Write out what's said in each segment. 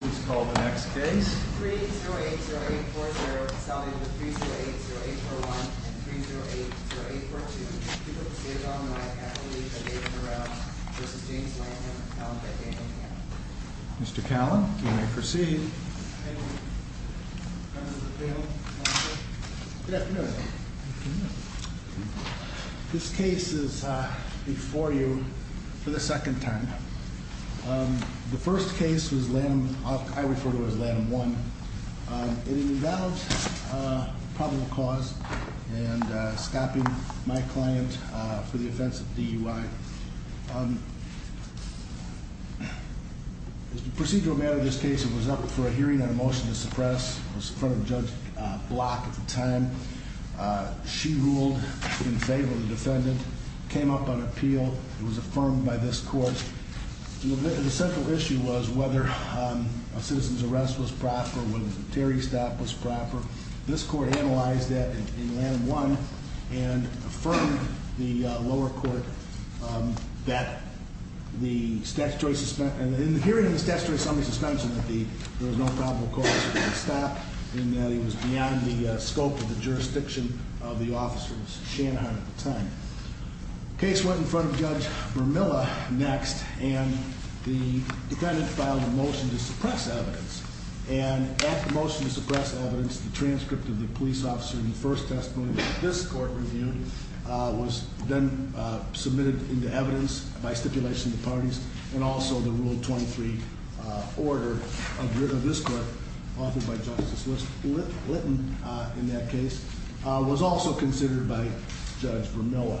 3-0-8-0-8-4-1 and 3-0-8-0-8-4-2, people proceeded on the right, athletes on the left, v. James Lanham, Calum Beckham, and Hannah. Mr. Callan, you may proceed. Thank you. Good afternoon. This case is before you for the second time. The first case was Lanham. I refer to it as Lanham 1. It involved probable cause and stopping my client for the offense of DUI. As the procedural matter of this case, it was up for a hearing and a motion to suppress. It was in front of Judge Block at the time. She ruled in favor of the defendant, came up on appeal. It was affirmed by this court. The central issue was whether a citizen's arrest was proper, whether the Terry stop was proper. This court analyzed that in Lanham 1 and affirmed the lower court that the statutory suspension, in the hearing of the statutory summary suspension, that there was no probable cause for the stop and that it was beyond the scope of the jurisdiction of the officers, Shanahan at the time. The case went in front of Judge Vermilla next, and the defendant filed a motion to suppress evidence. At the motion to suppress evidence, the transcript of the police officer in the first testimony that this court reviewed was then submitted into evidence by stipulation of the parties and also the Rule 23 order of this court offered by Justice Litton in that case was also considered by Judge Vermilla.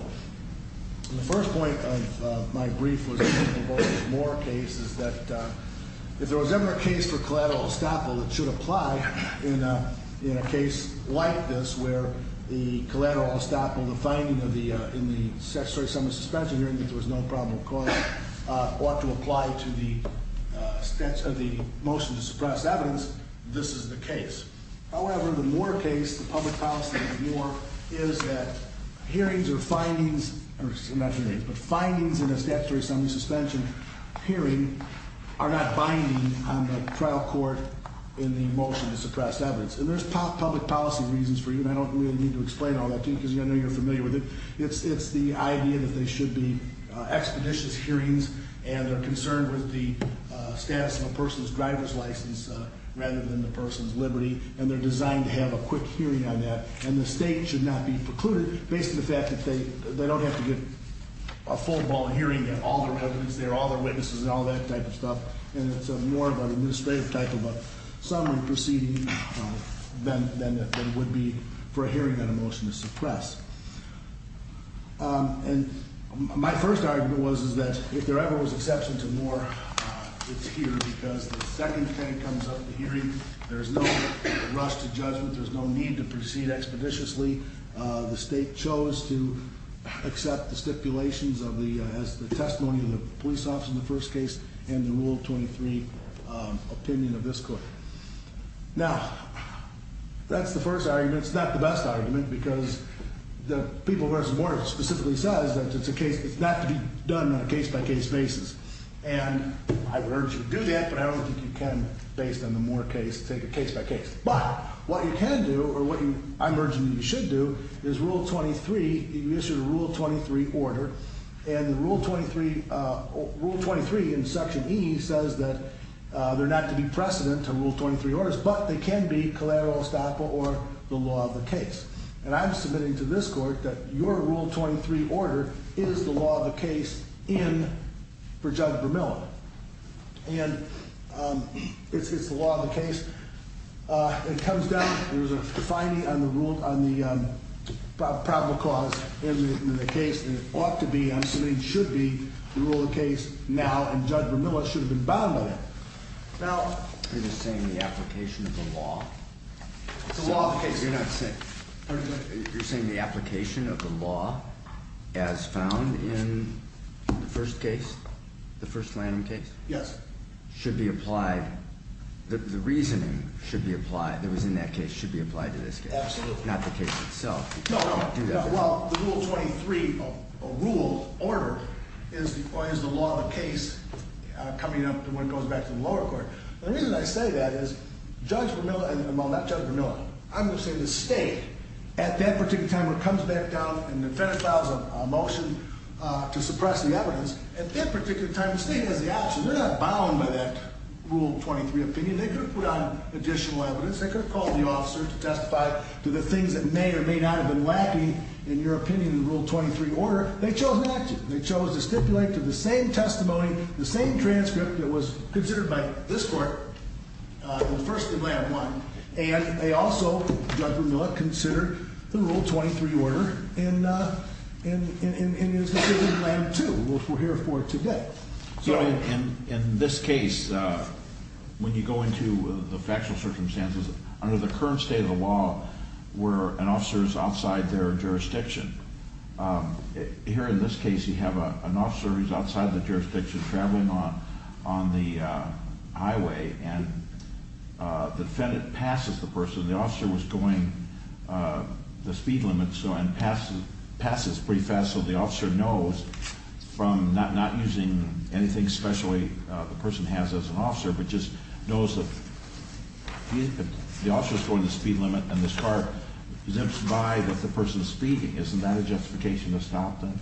The first point of my brief was that if there was ever a case for collateral estoppel, it should apply in a case like this where the collateral estoppel, the finding in the statutory summary suspension hearing that there was no probable cause ought to apply to the motion to suppress evidence, this is the case. However, the Moore case, the public policy case of Moore, is that hearings or findings, or not hearings, but findings in a statutory summary suspension hearing are not binding on the trial court in the motion to suppress evidence. And there's public policy reasons for you, and I don't really need to explain all that to you because I know you're familiar with it. It's the idea that they should be expeditious hearings and they're concerned with the status of a person's driver's license rather than the person's liberty, and they're designed to have a quick hearing on that, and the state should not be precluded based on the fact that they don't have to get a full-blown hearing and all their evidence there, all their witnesses and all that type of stuff, and it's more of an administrative type of a summary proceeding than it would be for a hearing on a motion to suppress. And my first argument was that if there ever was exception to Moore, it's here because the second thing that comes up in the hearing, there's no rush to judgment, there's no need to proceed expeditiously. The state chose to accept the stipulations of the testimony of the police officer in the first case and the Rule 23 opinion of this court. Now, that's the first argument. It's not the best argument because the People v. Moore specifically says that it's a case, it's not to be done on a case-by-case basis, and I would urge you to do that, but I don't think you can based on the Moore case, take it case-by-case. But what you can do or what I'm urging you you should do is Rule 23, you issue the Rule 23 order, and Rule 23 in Section E says that there's not to be precedent to Rule 23 orders, but they can be collateral, estoppel, or the law of the case. And I'm submitting to this court that your Rule 23 order is the law of the case in for Judge Vermilla. And it's the law of the case. It comes down, there's a defining on the rule, on the probable cause in the case, and it ought to be, I'm submitting, should be the rule of the case now, and Judge Vermilla should have been bound by that. You're just saying the application of the law? It's the law of the case. You're saying the application of the law as found in the first case, the first Lanham case? Yes. Should be applied, the reasoning should be applied, that was in that case should be applied to this case. Absolutely. Not the case itself. Well, the Rule 23 rule order is the law of the case coming up when it goes back to the lower court. The reason I say that is Judge Vermilla, well, not Judge Vermilla, I'm going to say the state, at that particular time when it comes back down and the defendant files a motion to suppress the evidence, at that particular time the state has the option. They're not bound by that Rule 23 opinion. They could have put on additional evidence. They could have called the officer to testify to the things that may or may not have been lacking, in your opinion, in the Rule 23 order. They chose not to. They chose to stipulate to the same testimony, the same transcript that was considered by this court in the first Lanham one, and they also, Judge Vermilla, considered the Rule 23 order in his decision in Lanham two, which we're here for today. So in this case, when you go into the factual circumstances, under the current state of the law where an officer is outside their jurisdiction, here in this case you have an officer who's outside the jurisdiction traveling on the highway, and the defendant passes the person. The officer was going the speed limit and passes pretty fast, so the officer knows from not using anything specially the person has as an officer, but just knows that the officer is going the speed limit and this car zips by that the person is speeding. Isn't that a justification to stop them?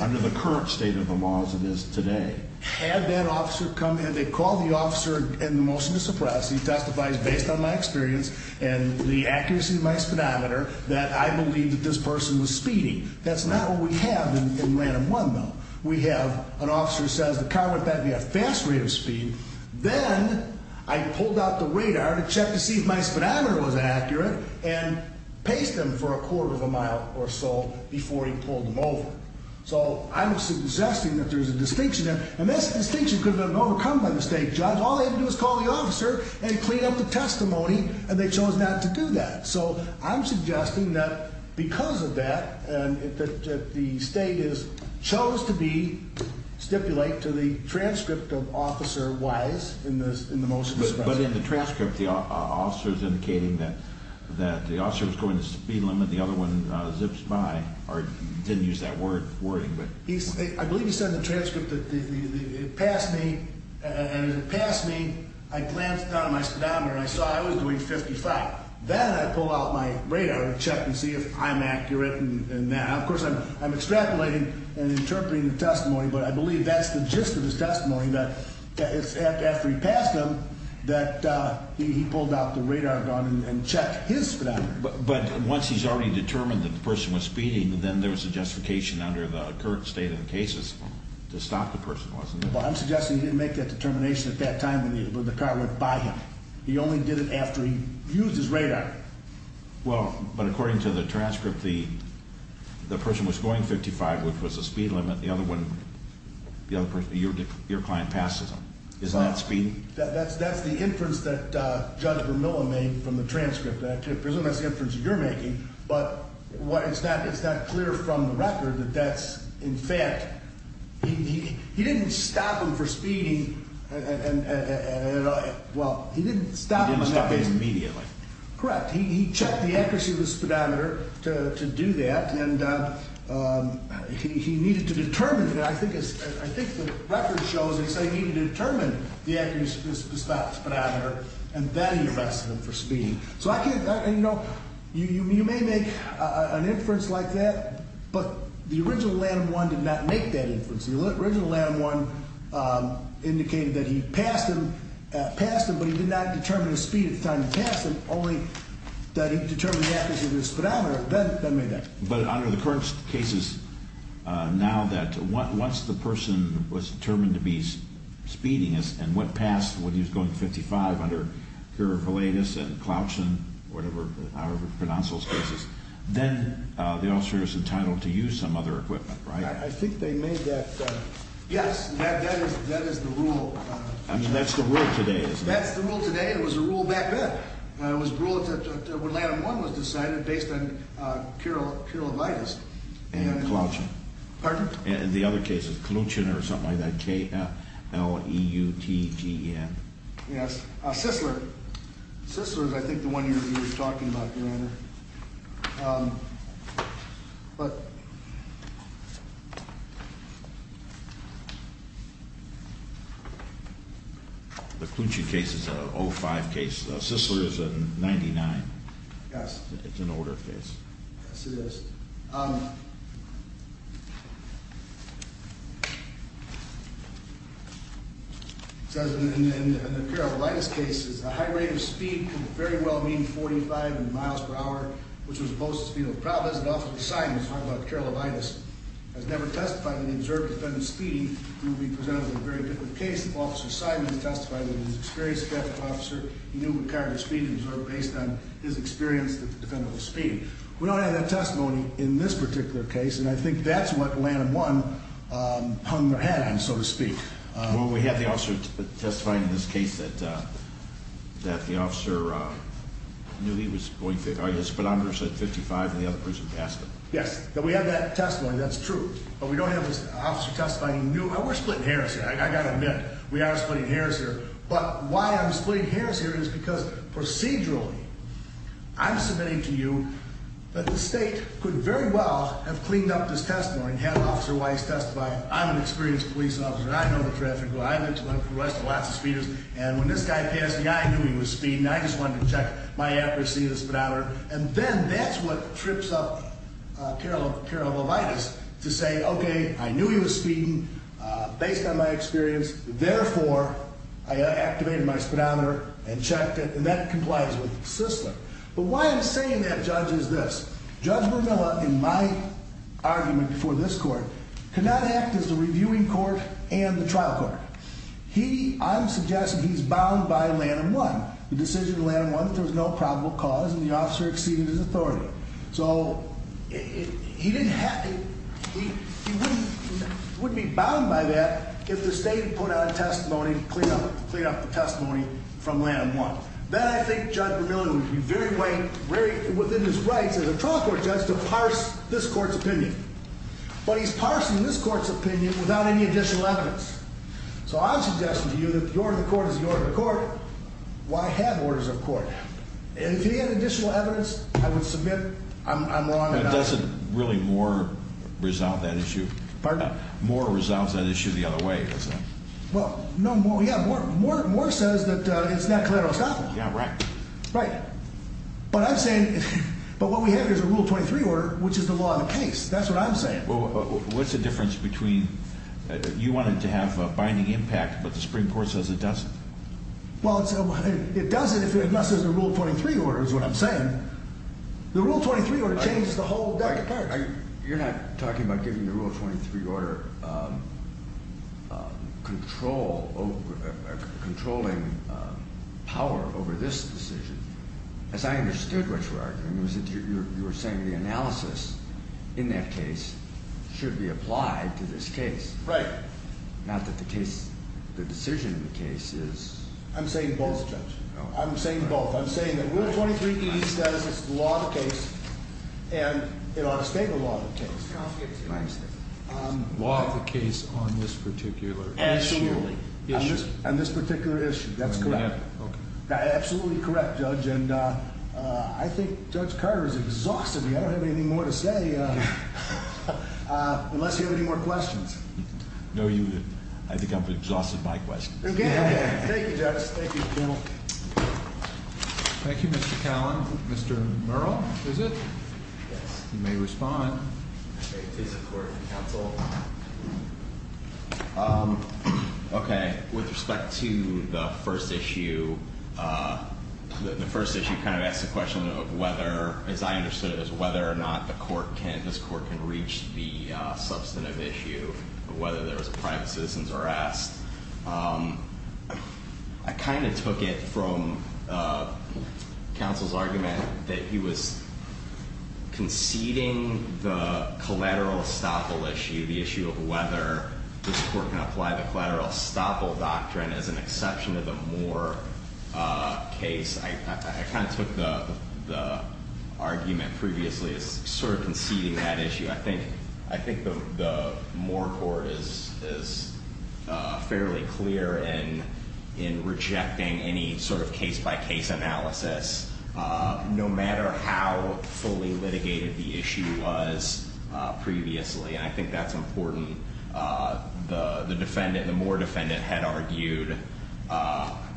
Under the current state of the law as it is today. Had that officer come in and called the officer and the motion to suppress, he testifies based on my experience and the accuracy of my speedometer, that I believe that this person was speeding. That's not what we have in Lanham one, though. We have an officer who says the car went by at a fast rate of speed, then I pulled out the radar to check to see if my speedometer was accurate and paced him for a quarter of a mile or so before he pulled him over. So I'm suggesting that there's a distinction there, and this distinction could have been overcome by mistake, Judge. All they had to do was call the officer and clean up the testimony, and they chose not to do that. So I'm suggesting that because of that, that the state chose to stipulate to the transcript of officer-wise in the motion to suppress. But in the transcript, the officer is indicating that the officer was going the speed limit, the other one zips by, or didn't use that wording. I believe he said in the transcript that it passed me, and as it passed me, I glanced down at my speedometer and I saw I was doing 55. Then I pulled out my radar to check and see if I'm accurate. Of course, I'm extrapolating and interpreting the testimony, but I believe that's the gist of his testimony, that after he passed him, that he pulled out the radar gun and checked his speedometer. But once he's already determined that the person was speeding, then there was a justification under the current state of the cases to stop the person, wasn't there? Well, I'm suggesting he didn't make that determination at that time when the car went by him. He only did it after he used his radar. Well, but according to the transcript, the person was going 55, which was the speed limit. The other one, your client passes him. Is that speeding? That's the inference that Judge Vermilla made from the transcript. I presume that's the inference you're making, but it's not clear from the record that that's, in fact, he didn't stop him for speeding and, well, he didn't stop him immediately. He didn't stop him immediately. Correct. He checked the accuracy of the speedometer to do that, and he needed to determine that. I think the record shows he said he needed to determine the accuracy of the speedometer, and then he arrested him for speeding. You know, you may make an inference like that, but the original Lanham One did not make that inference. The original Lanham One indicated that he passed him, but he did not determine his speed at the time he passed him, only that he determined the accuracy of his speedometer, then made that. But under the current cases, now that once the person was determined to be speeding and went past when he was going 55 under curiculitis and cloution, whatever, however pronounced those cases, then the officer is entitled to use some other equipment, right? I think they made that. Yes, that is the rule. I mean, that's the rule today, isn't it? That's the rule today. It was a rule back then. It was a rule when Lanham One was decided based on curiculitis. And cloution. Pardon? The other cases, cloution or something like that, K-L-E-U-T-G-E-N. Yes, Sisler. Sisler is, I think, the one you're talking about, Your Honor. The cloution case is a 05 case. Sisler is a 99. Yes. It's an older case. Yes, it is. It says in the curiculitis cases, a high rate of speed could very well mean 45 in miles per hour, which was supposed to be, you know, probably as an officer of assignment, talking about curiculitis, has never testified in the observed defendant's speeding. It would be presented as a very different case if an officer of assignment had testified in his experience as a traffic officer. He knew what kind of speed he observed based on his experience as a defendant of speeding. We don't have that testimony in this particular case, and I think that's what Lanham 1 hung their head on, so to speak. Well, we have the officer testifying in this case that the officer knew he was going, the speedometer said 55, and the other person passed him. Yes, we have that testimony. That's true. But we don't have this officer testifying. We're splitting hairs here, I've got to admit. We are splitting hairs here. But why I'm splitting hairs here is because procedurally I'm submitting to you that the state could very well have cleaned up this testimony and had Officer Weiss testify, I'm an experienced police officer, and I know the traffic, and when this guy passed me, I knew he was speeding. I just wanted to check my accuracy of the speedometer. And then that's what trips up Carol Levitis to say, okay, I knew he was speeding based on my experience. Therefore, I activated my speedometer and checked it, and that complies with the system. But why I'm saying that, Judge, is this. Judge Vermilla, in my argument before this court, cannot act as the reviewing court and the trial court. I'm suggesting he's bound by Lanham 1, the decision of Lanham 1 that there was no probable cause and the officer exceeded his authority. So he wouldn't be bound by that if the state put out a testimony to clean up the testimony from Lanham 1. Then I think Judge Vermilla would be very within his rights as a trial court judge to parse this court's opinion. But he's parsing this court's opinion without any additional evidence. So I'm suggesting to you that the order of the court is the order of the court. Why have orders of court? If he had additional evidence, I would submit I'm wrong about it. But doesn't really Moore resolve that issue? Pardon? Moore resolves that issue the other way, does he? Well, no, yeah, Moore says that it's not collateral stopping. Yeah, right. Right. But I'm saying, but what we have here is a Rule 23 order, which is the law of the case. That's what I'm saying. Well, what's the difference between you want it to have a binding impact, but the Supreme Court says it doesn't? Well, it doesn't unless there's a Rule 23 order is what I'm saying. The Rule 23 order changes the whole deck of cards. You're not talking about giving the Rule 23 order controlling power over this decision. As I understood what you're arguing, you were saying the analysis in that case should be applied to this case. Right. Not that the case, the decision in the case is. I'm saying both, Judge. I'm saying both. I'm saying that Rule 23E says it's the law of the case, and it ought to stay the law of the case. I understand. Law of the case on this particular issue. Absolutely. And this particular issue, that's correct. Okay. Absolutely correct, Judge. And I think Judge Carter has exhausted me. I don't have anything more to say unless you have any more questions. No, you didn't. I think I've exhausted my questions. Okay. Thank you, Judge. Thank you, General. Thank you, Mr. Callan. Mr. Murrell, is it? Yes. You may respond. Okay. Please support counsel. Okay. With respect to the first issue, the first issue kind of asks the question of whether, as I understood it, whether or not this court can reach the substantive issue of whether there was a private citizen's arrest. I kind of took it from counsel's argument that he was conceding the collateral estoppel issue, the issue of whether this court can apply the collateral estoppel doctrine as an exception to the Moore case. I kind of took the argument previously as sort of conceding that issue. I think the Moore court is fairly clear in rejecting any sort of case-by-case analysis, no matter how fully litigated the issue was previously, and I think that's important. The defendant, the Moore defendant, had argued,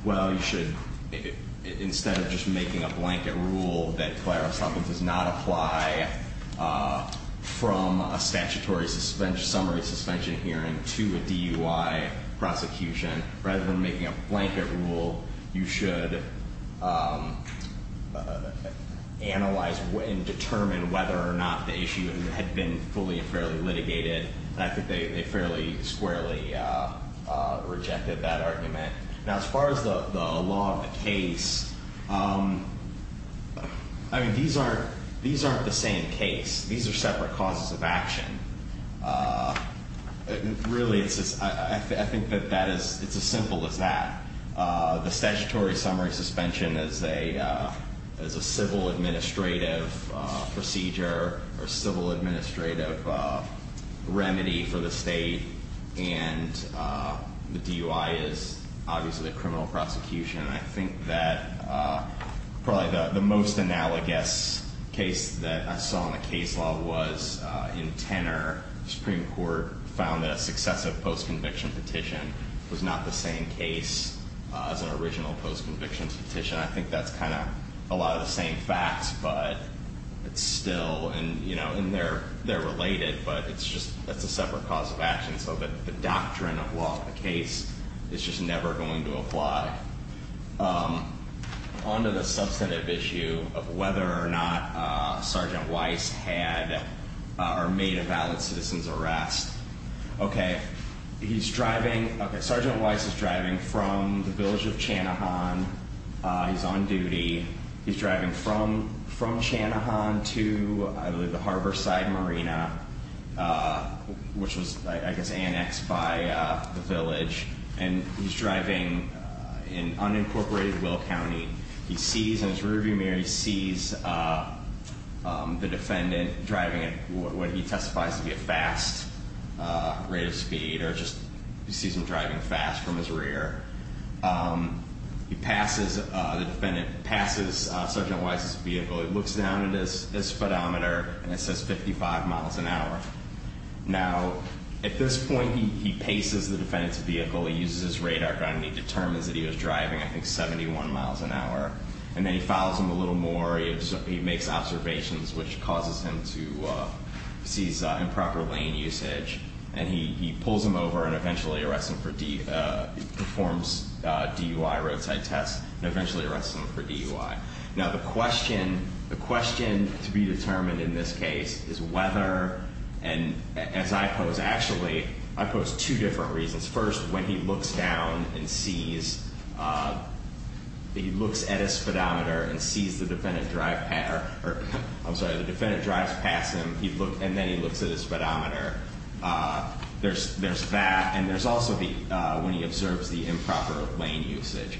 well, you should, instead of just making a blanket rule that collateral estoppel does not apply from a statutory summary suspension hearing to a DUI prosecution, rather than making a blanket rule, you should analyze and determine whether or not the issue had been fully and fairly litigated. And I think they fairly squarely rejected that argument. Now, as far as the law of the case, I mean, these aren't the same case. These are separate causes of action. Really, I think that it's as simple as that. The statutory summary suspension is a civil administrative procedure or civil administrative remedy for the state, and the DUI is obviously a criminal prosecution. I think that probably the most analogous case that I saw in the case law was in Tenor. Supreme Court found that a successive post-conviction petition was not the same case as an original post-conviction petition. I think that's kind of a lot of the same facts, but it's still, and, you know, they're related, but it's just that's a separate cause of action, so the doctrine of law of the case is just never going to apply. On to the substantive issue of whether or not Sergeant Weiss had or made a valid citizen's arrest. Okay, he's driving. Okay, Sergeant Weiss is driving from the village of Chanahan. He's on duty. He's driving from Chanahan to, I believe, the Harborside Marina, which was, I guess, annexed by the village, and he's driving in unincorporated Will County. He sees in his rearview mirror, he sees the defendant driving at what he testifies to be a fast rate of speed, or just he sees him driving fast from his rear. He passes Sergeant Weiss's vehicle. He looks down at his speedometer, and it says 55 miles an hour. Now, at this point, he paces the defendant's vehicle. He uses his radar gun, and he determines that he was driving, I think, 71 miles an hour. And then he follows him a little more. He makes observations, which causes him to seize improper lane usage, and he pulls him over and eventually arrests him for D, performs DUI roadside tests, and eventually arrests him for DUI. Now, the question to be determined in this case is whether, and as I pose, actually, I pose two different reasons. First, when he looks down and sees, he looks at his speedometer and sees the defendant drive, or I'm sorry, the defendant drives past him, and then he looks at his speedometer. There's that, and there's also when he observes the improper lane usage.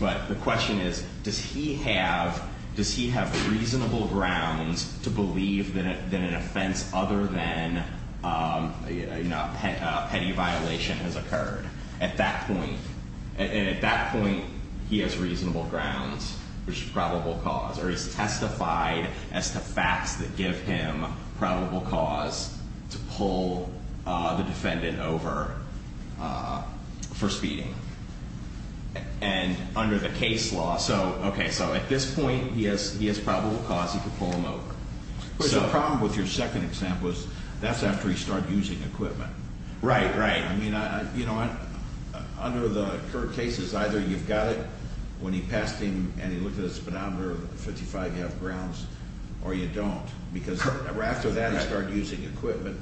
But the question is, does he have reasonable grounds to believe that an offense other than a petty violation has occurred? At that point, he has reasonable grounds, which is probable cause, or he's testified as to facts that give him probable cause to pull the defendant over for speeding. And under the case law, so, okay, so at this point, he has probable cause, he could pull him over. But the problem with your second example is that's after he started using equipment. Right, right. I mean, you know, under the current cases, either you've got it when he passed him and he looked at his speedometer, 55, you have grounds, or you don't, because after that, he started using equipment.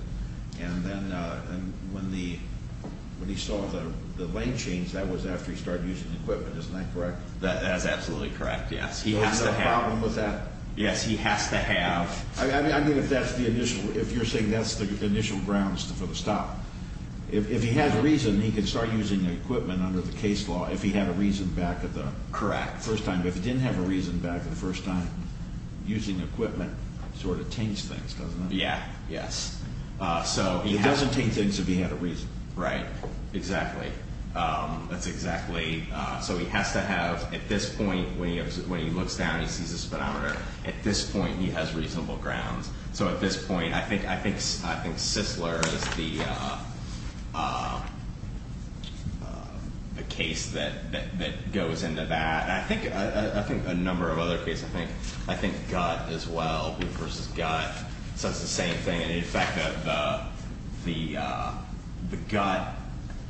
And then when he saw the lane change, that was after he started using equipment. Isn't that correct? That is absolutely correct, yes. So there's no problem with that? Yes, he has to have. I mean, if that's the initial, if you're saying that's the initial grounds for the stop, if he had a reason, he could start using equipment under the case law if he had a reason back at the first time. Correct. But if he didn't have a reason back at the first time, using equipment sort of taints things, doesn't it? Yeah, yes. So he doesn't taint things if he had a reason. Right, exactly. That's exactly. So he has to have, at this point, when he looks down, he sees his speedometer. At this point, he has reasonable grounds. So at this point, I think Sisler is the case that goes into that. I think a number of other cases. I think Gutt as well versus Gutt says the same thing. And in fact, the Gutt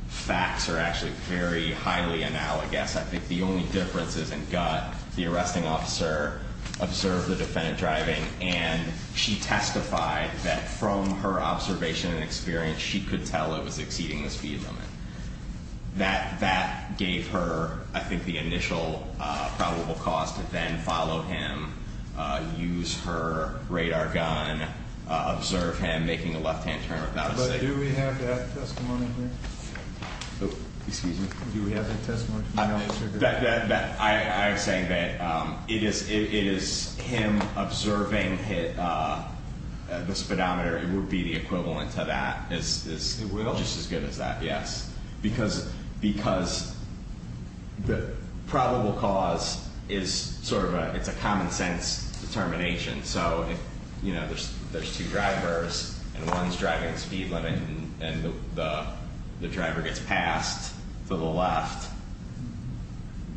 facts are actually very highly analogous. I think the only difference is in Gutt, the arresting officer observed the defendant driving, and she testified that from her observation and experience, she could tell it was exceeding the speed limit. That gave her, I think, the initial probable cause to then follow him, use her radar gun, observe him, making a left-hand turn without a second. But do we have that testimony here? Excuse me. Do we have that testimony? I am saying that it is him observing the speedometer. It would be the equivalent to that. It will? Well, just as good as that, yes. Because the probable cause is sort of a common-sense determination. So, you know, there's two drivers, and one is driving at speed limit, and the driver gets passed to the left.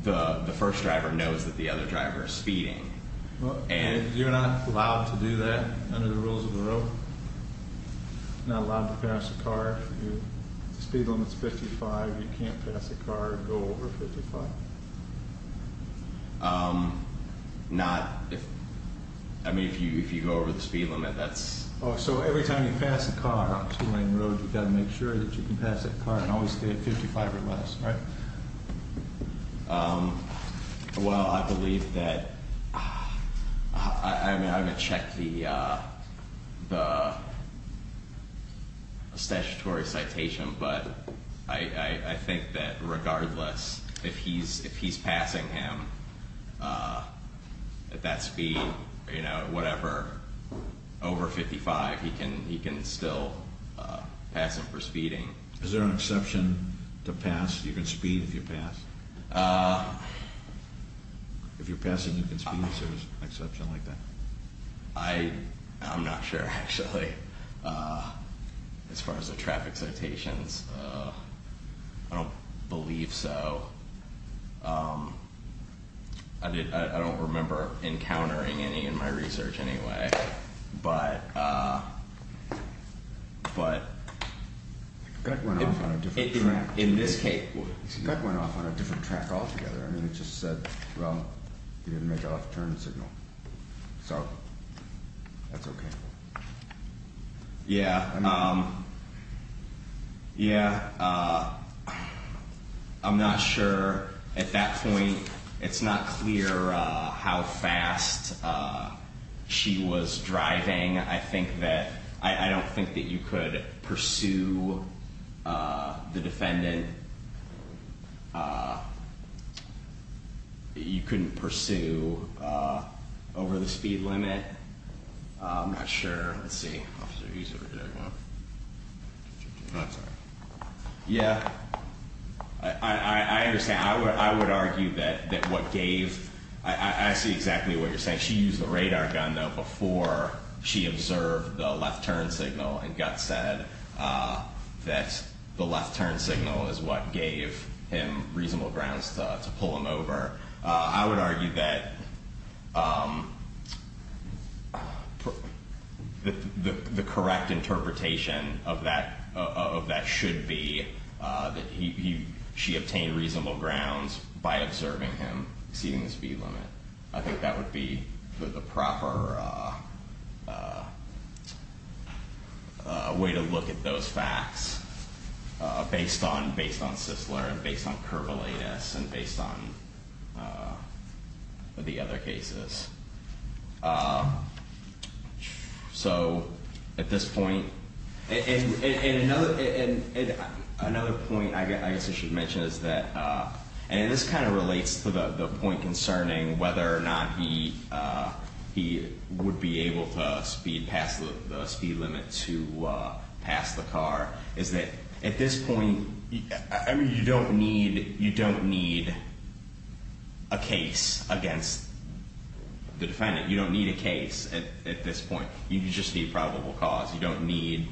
The first driver knows that the other driver is speeding. You're not allowed to do that under the rules of the road? You're not allowed to pass a car? If the speed limit is 55, you can't pass a car and go over 55? Not if you go over the speed limit. Oh, so every time you pass a car on a two-lane road, you've got to make sure that you can pass that car and always stay at 55 or less, right? Well, I believe that—I mean, I haven't checked the statutory citation, but I think that regardless, if he's passing him at that speed, you know, whatever, over 55, he can still pass him for speeding. Is there an exception to pass—you can speed if you pass? If you're passing, you can speed? Is there an exception like that? I'm not sure, actually, as far as the traffic citations. I don't believe so. I don't remember encountering any in my research anyway. But, uh, but— The guy went off on a different track. In this case— The guy went off on a different track altogether. I mean, it just said, well, he didn't make an off-turn signal. So, that's okay. Yeah. Yeah. I'm not sure. At that point, it's not clear how fast she was driving. I think that—I don't think that you could pursue the defendant. You couldn't pursue over the speed limit. I'm not sure. Let's see. Yeah, I understand. I would argue that what gave—I see exactly what you're saying. She used the radar gun, though, before she observed the left-turn signal and got said that the left-turn signal is what gave him reasonable grounds to pull him over. I would argue that the correct interpretation of that should be that she obtained reasonable grounds by observing him exceeding the speed limit. I think that would be the proper way to look at those facts based on Sisler and based on curvilineous and based on the other cases. So, at this point—and another point I guess I should mention is that—and this kind of relates to the point concerning whether or not he would be able to speed past the speed limit to pass the car, is that at this point— you don't need a case against the defendant. You don't need a case at this point. You just need probable cause. You don't need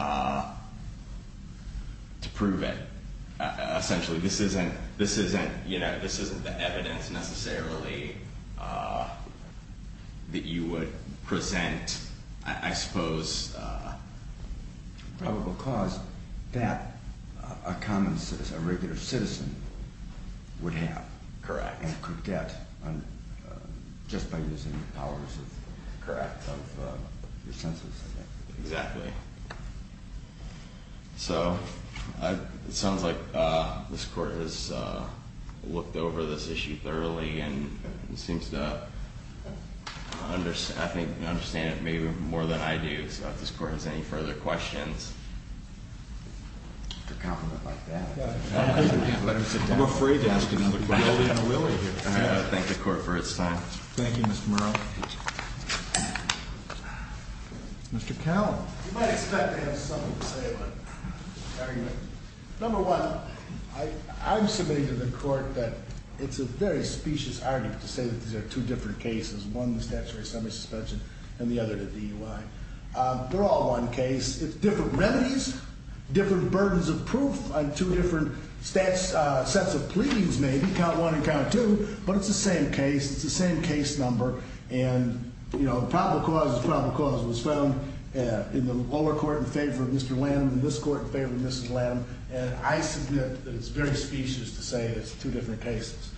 to prove it. Essentially, this isn't the evidence necessarily that you would present, I suppose. It's probable cause that a common citizen, a regular citizen, would have. Correct. And could get just by using the powers of your senses. Correct. Exactly. So, it sounds like this Court has looked over this issue thoroughly and seems to understand it maybe more than I do. So, if this Court has any further questions. A compliment like that. Let him sit down. I'm afraid to ask another question. All right, I'll thank the Court for its time. Thank you, Mr. Murrell. Mr. Cowell. You might expect to have something to say about the argument. Number one, I'm submitting to the Court that it's a very specious argument to say that these are two different cases, one the statutory summary suspension and the other the DUI. They're all one case. It's different remedies, different burdens of proof on two different sets of pleadings maybe, count one and count two, but it's the same case. It's the same case number. And, you know, probable cause is probable cause. It was found in the lower court in favor of Mr. Lanham and this Court in favor of Mrs. Lanham. And I submit that it's very specious to say it's two different cases.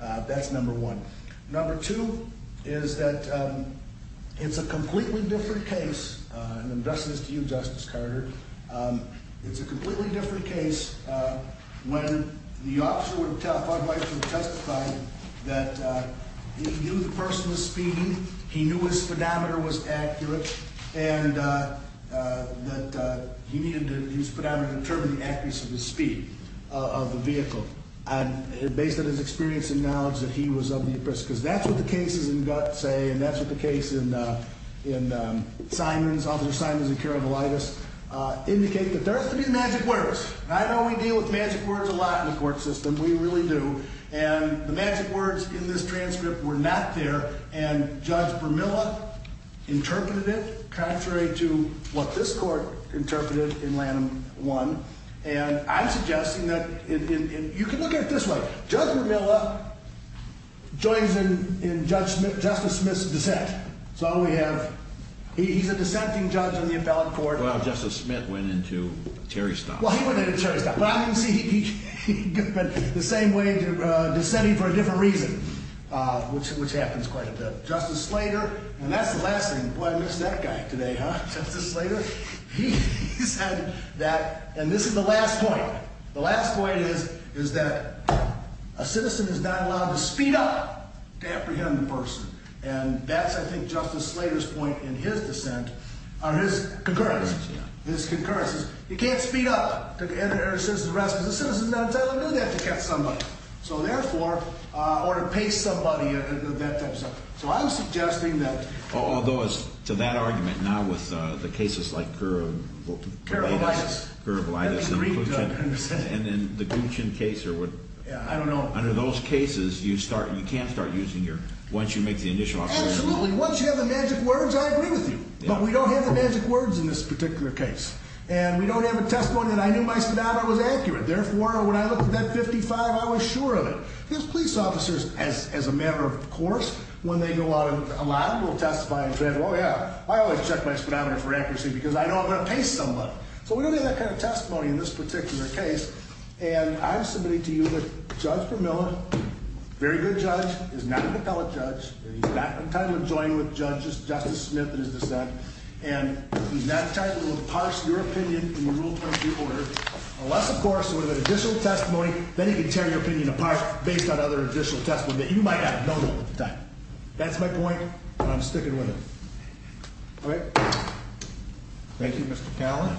That's number one. Number two is that it's a completely different case, and I'm addressing this to you, Justice Carter, it's a completely different case when the officer would have testified that he knew the person was speeding, he knew his speedometer was accurate, and that he needed his speedometer to determine the accuracy of his speed of the vehicle. Based on his experience and knowledge that he was of the oppressed, because that's what the cases in Gutt say, and that's what the case in Simon's, Officer Simon's in Carabolitis, indicate that there has to be magic words. I know we deal with magic words a lot in the court system, we really do, and the magic words in this transcript were not there, and Judge Bermilla interpreted it contrary to what this Court interpreted in Lanham 1. And I'm suggesting that you can look at it this way. Judge Bermilla joins in Justice Smith's dissent. So we have, he's a dissenting judge in the appellate court. Well, Justice Smith went into Terry Stott. Well, he went into Terry Stott, but I'm going to say he went the same way, dissenting for a different reason, which happens quite a bit. Justice Slater, and that's the last thing. Boy, I missed that guy today, huh, Justice Slater? He said that, and this is the last point, the last point is that a citizen is not allowed to speed up to apprehend the person, and that's, I think, Justice Slater's point in his dissent, or his concurrence. His concurrence is you can't speed up to enter a citizen's arrest because a citizen is not entitled to do that to catch somebody. So therefore, or to pace somebody, that type of stuff. So I'm suggesting that. Although, as to that argument, now with the cases like Curablitus. Curablitus. Curablitus. And then the Guccion case, or what. I don't know. Under those cases, you start, you can't start using your, once you make the initial observation. Absolutely. Once you have the magic words, I agree with you. But we don't have the magic words in this particular case, and we don't have a testimony that I knew my sonata was accurate. Therefore, when I looked at that 55, I was sure of it. Because police officers, as a matter of course, when they go out, a lot of them will testify and say, oh, yeah. I always check my sonata for accuracy because I know I'm going to pace somebody. So we don't have that kind of testimony in this particular case. And I'm submitting to you that Judge Vermillion, very good judge, is not an appellate judge, and he's not entitled to join with Justice Smith in his dissent, and he's not entitled to parse your opinion in the rule 20 people order, unless, of course, there was an additional testimony. Then you can tear your opinion apart based on other additional testimony that you might have known at the time. That's my point, and I'm sticking with it. All right. Thank you, Mr. Callan.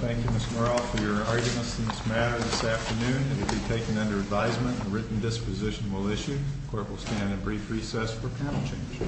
Thank you, Mr. Morrell, for your arguments in this matter this afternoon. It will be taken under advisement. A written disposition will issue. The court will stand in brief recess for panel change.